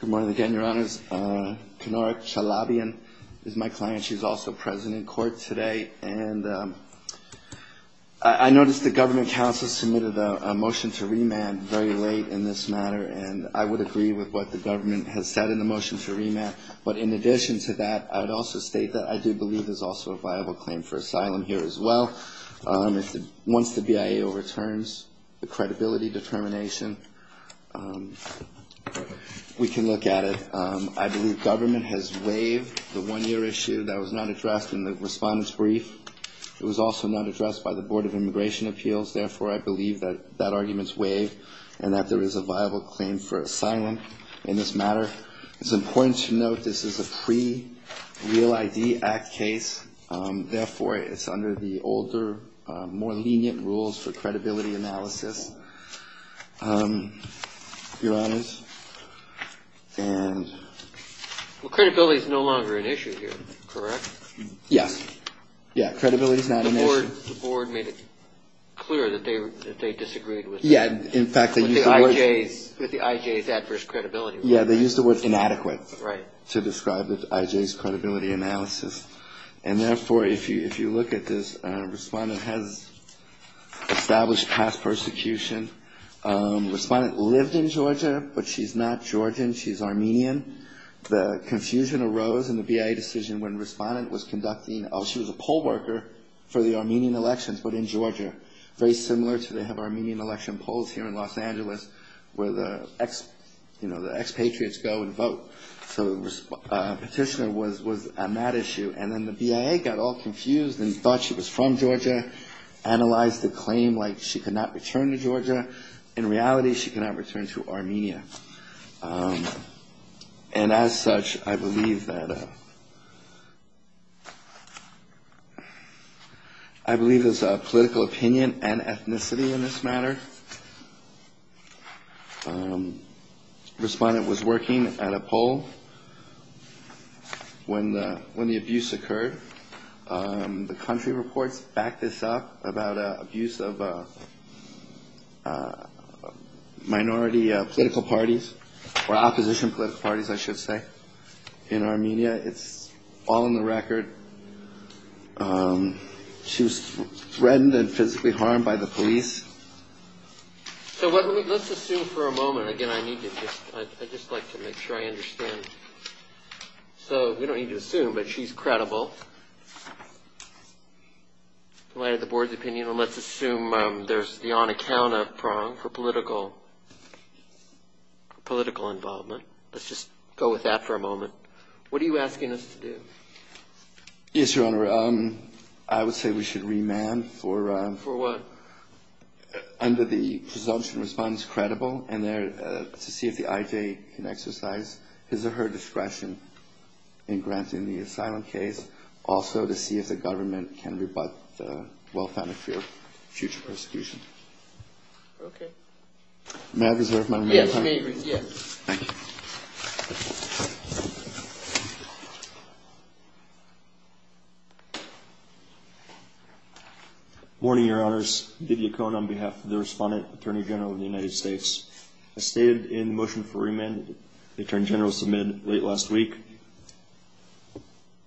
Good morning again, your honors. Kenora Chalabyan is my client. She's also present in court today. And I noticed the government counsel submitted a motion to remand very late in this matter. And I would agree with what the government has said in the motion to remand. But in addition to that, I would also state that I do believe there's also a viable claim for asylum here as well. Once the BIA overturns the credibility determination, we can look at it. I believe government has waived the one-year issue that was not addressed in the respondent's brief. It was also not addressed by the Board of Immigration Appeals. Therefore, I believe that that argument is waived and that there is a viable claim for asylum in this matter. It's important to note this is a pre-Real ID Act case. Therefore, it's under the older, more lenient rules for credibility analysis, your honors. Well, credibility is no longer an issue here, correct? Yes. Yeah, credibility is not an issue. The board made it clear that they disagreed with the IJ's adverse credibility. Yeah, they used the word inadequate to describe the IJ's credibility analysis. And therefore, if you look at this, respondent has established past persecution. Respondent lived in Georgia, but she's not Georgian. She's Armenian. The confusion arose in the BIA decision when respondent was conducting, she was a poll worker for the Armenian elections, but in Georgia. Very similar to they have Armenian election polls here in Los Angeles where the expatriates go and vote. So petitioner was on that issue. And then the BIA got all confused and thought she was from Georgia, analyzed the claim like she could not return to Georgia. In reality, she cannot return to Armenia. And as such, I believe that, I believe there's a political opinion and ethnicity in this matter. Respondent was working at a poll when the abuse occurred. The country reports back this up about abuse of minority political parties or opposition political parties, I should say, in Armenia. It's all in the record. She was threatened and physically harmed by the police. So let's assume for a moment. Again, I need to just I'd just like to make sure I understand. So we don't need to assume, but she's credible. Why the board's opinion on let's assume there's the on account of prong for political political involvement. Let's just go with that for a moment. What are you asking us to do? Yes, your honor. I would say we should remand for for what? Under the presumption response, credible. And there to see if the IJ can exercise his or her discretion in granting the asylum case. Also to see if the government can rebut the well-founded fear of future persecution. OK. Matt is there. Yes. Thank you. Morning, your honors. Did you come on behalf of the respondent attorney general of the United States? I stayed in motion for remand. The attorney general submitted late last week.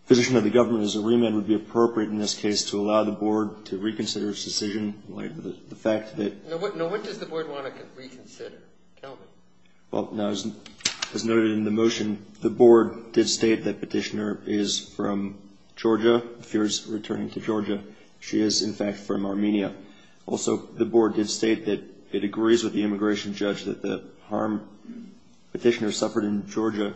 Physician of the government is a remand would be appropriate in this case to allow the board to reconsider its decision. The fact that what does the board want to reconsider? Well, as noted in the motion, the board did state that petitioner is from Georgia. Fears returning to Georgia. She is, in fact, from Armenia. Also, the board did state that it agrees with the immigration judge that the harm petitioner suffered in Georgia.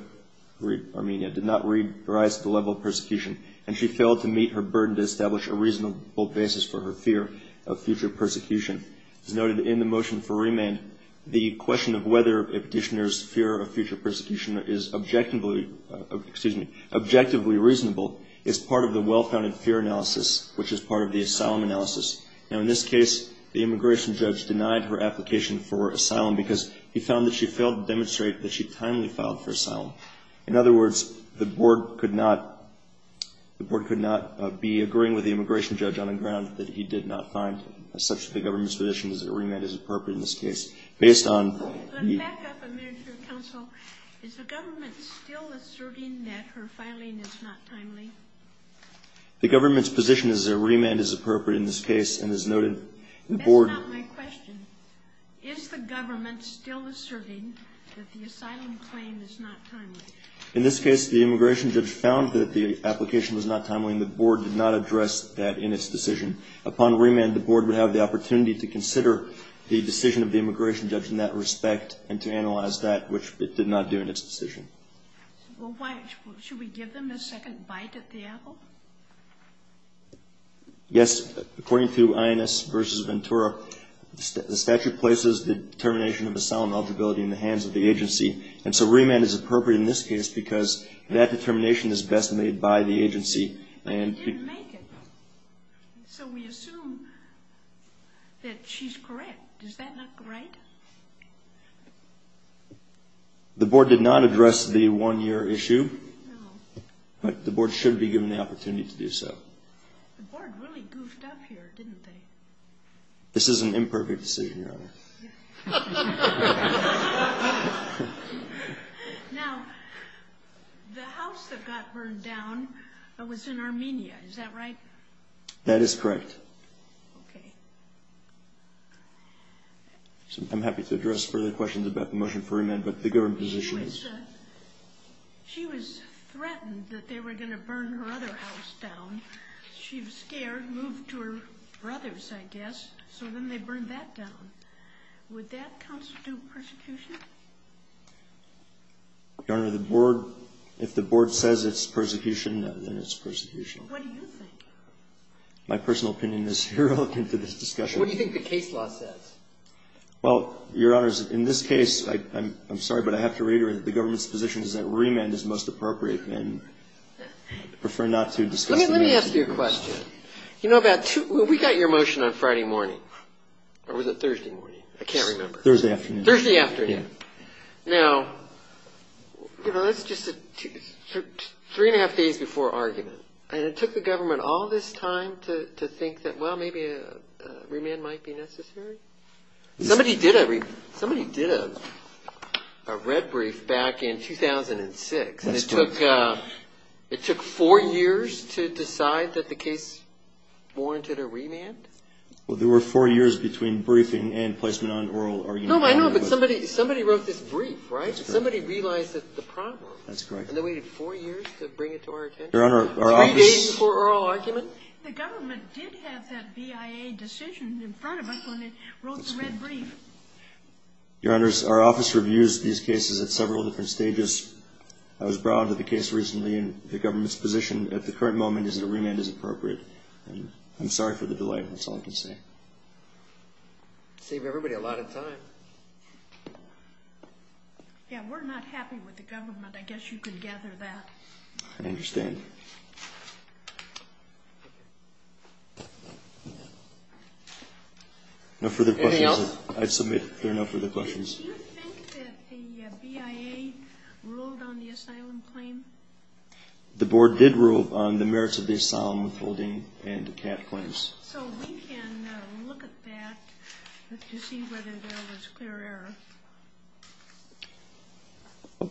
Armenia did not rise to the level of persecution. And she failed to meet her burden to establish a reasonable basis for her fear of future persecution. As noted in the motion for remand, the question of whether a petitioner's fear of future persecution is objectively, excuse me, objectively reasonable is part of the well-founded fear analysis, which is part of the asylum analysis. Now, in this case, the immigration judge denied her application for asylum because he found that she failed to demonstrate that she timely filed for asylum. In other words, the board could not be agreeing with the immigration judge on a ground that he did not find, as such, the government's position is that remand is appropriate in this case. Based on the... Let me back up a minute here, counsel. Is the government still asserting that her filing is not timely? The government's position is that remand is appropriate in this case, and as noted, the board... That's not my question. Is the government still asserting that the asylum claim is not timely? In this case, the immigration judge found that the application was not timely, and the board did not address that in its decision. Upon remand, the board would have the opportunity to consider the decision of the immigration judge in that respect and to analyze that, which it did not do in its decision. Well, why... Should we give them a second bite at the apple? Yes, according to INS versus Ventura, the statute places the determination of asylum eligibility in the hands of the agency, and so remand is appropriate in this case because that determination is best made by the agency and... But they didn't make it, so we assume that she's correct. Does that look right? The board did not address the one-year issue, but the board should be given the opportunity to do so. The board really goofed up here, didn't they? This is an imperfect decision, Your Honor. Now, the house that got burned down was in Armenia, is that right? That is correct. Okay. I'm happy to address further questions about the motion for remand, but the government's position is... She was threatened that they were going to burn her other house down. She was scared, moved to her brother's, I guess, so then they burned that down. Would that constitute persecution? Your Honor, the board... If the board says it's persecution, then it's persecution. What do you think? My personal opinion is irrelevant to this discussion. What do you think the case law says? Well, Your Honor, in this case, I'm sorry, but I have to reiterate that the government's position is that remand is most appropriate and I prefer not to discuss the matter with you. Let me ask you a question. We got your motion on Friday morning, or was it Thursday morning? I can't remember. Thursday afternoon. Thursday afternoon. Now, that's just three and a half days before argument, and it took the government all this time to think that, well, maybe a remand might be necessary? Somebody did a red brief back in 2006, and it took four years to decide that the case warranted a remand? Well, there were four years between briefing and placement on oral argument. No, I know, but somebody wrote this brief, right? Somebody realized the problem. That's correct. And they waited four years to bring it to our attention? Three days before oral argument? The government did have that BIA decision in front of us when it wrote the red brief. Your Honors, our office reviews these cases at several different stages. I was brought onto the case recently, and the government's position at the current moment is that a remand is appropriate. I'm sorry for the delay. That's all I can say. It saved everybody a lot of time. Yeah, we're not happy with the government. I guess you could gather that. I understand. Any further questions? Anything else? I submit there are no further questions. Do you think that the BIA ruled on the asylum claim? The Board did rule on the merits of the asylum withholding and CAT claims. So we can look at that to see whether there was clear error.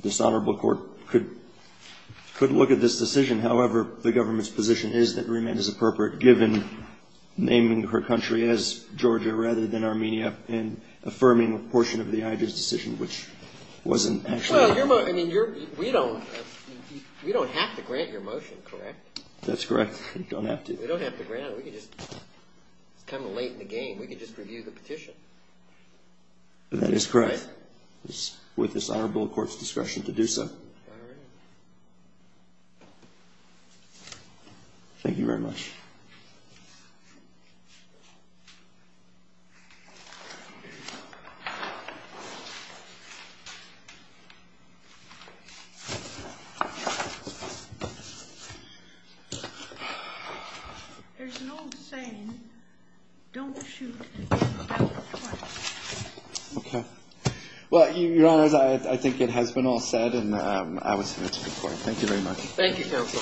This Honorable Court could look at this decision. However, the government's position is that remand is appropriate given naming her country as Georgia rather than Armenia and affirming a portion of the IJ's decision, which wasn't actually. Well, I mean, we don't have to grant your motion, correct? That's correct. We don't have to. We don't have to grant it. It's kind of late in the game. We can just review the petition. That is correct. It's with this Honorable Court's discretion to do so. Thank you very much. There's an old saying, don't shoot without fire. Okay. Well, Your Honor, I think it has been all said, and I will submit to the Court. Thank you very much. Thank you, Counsel.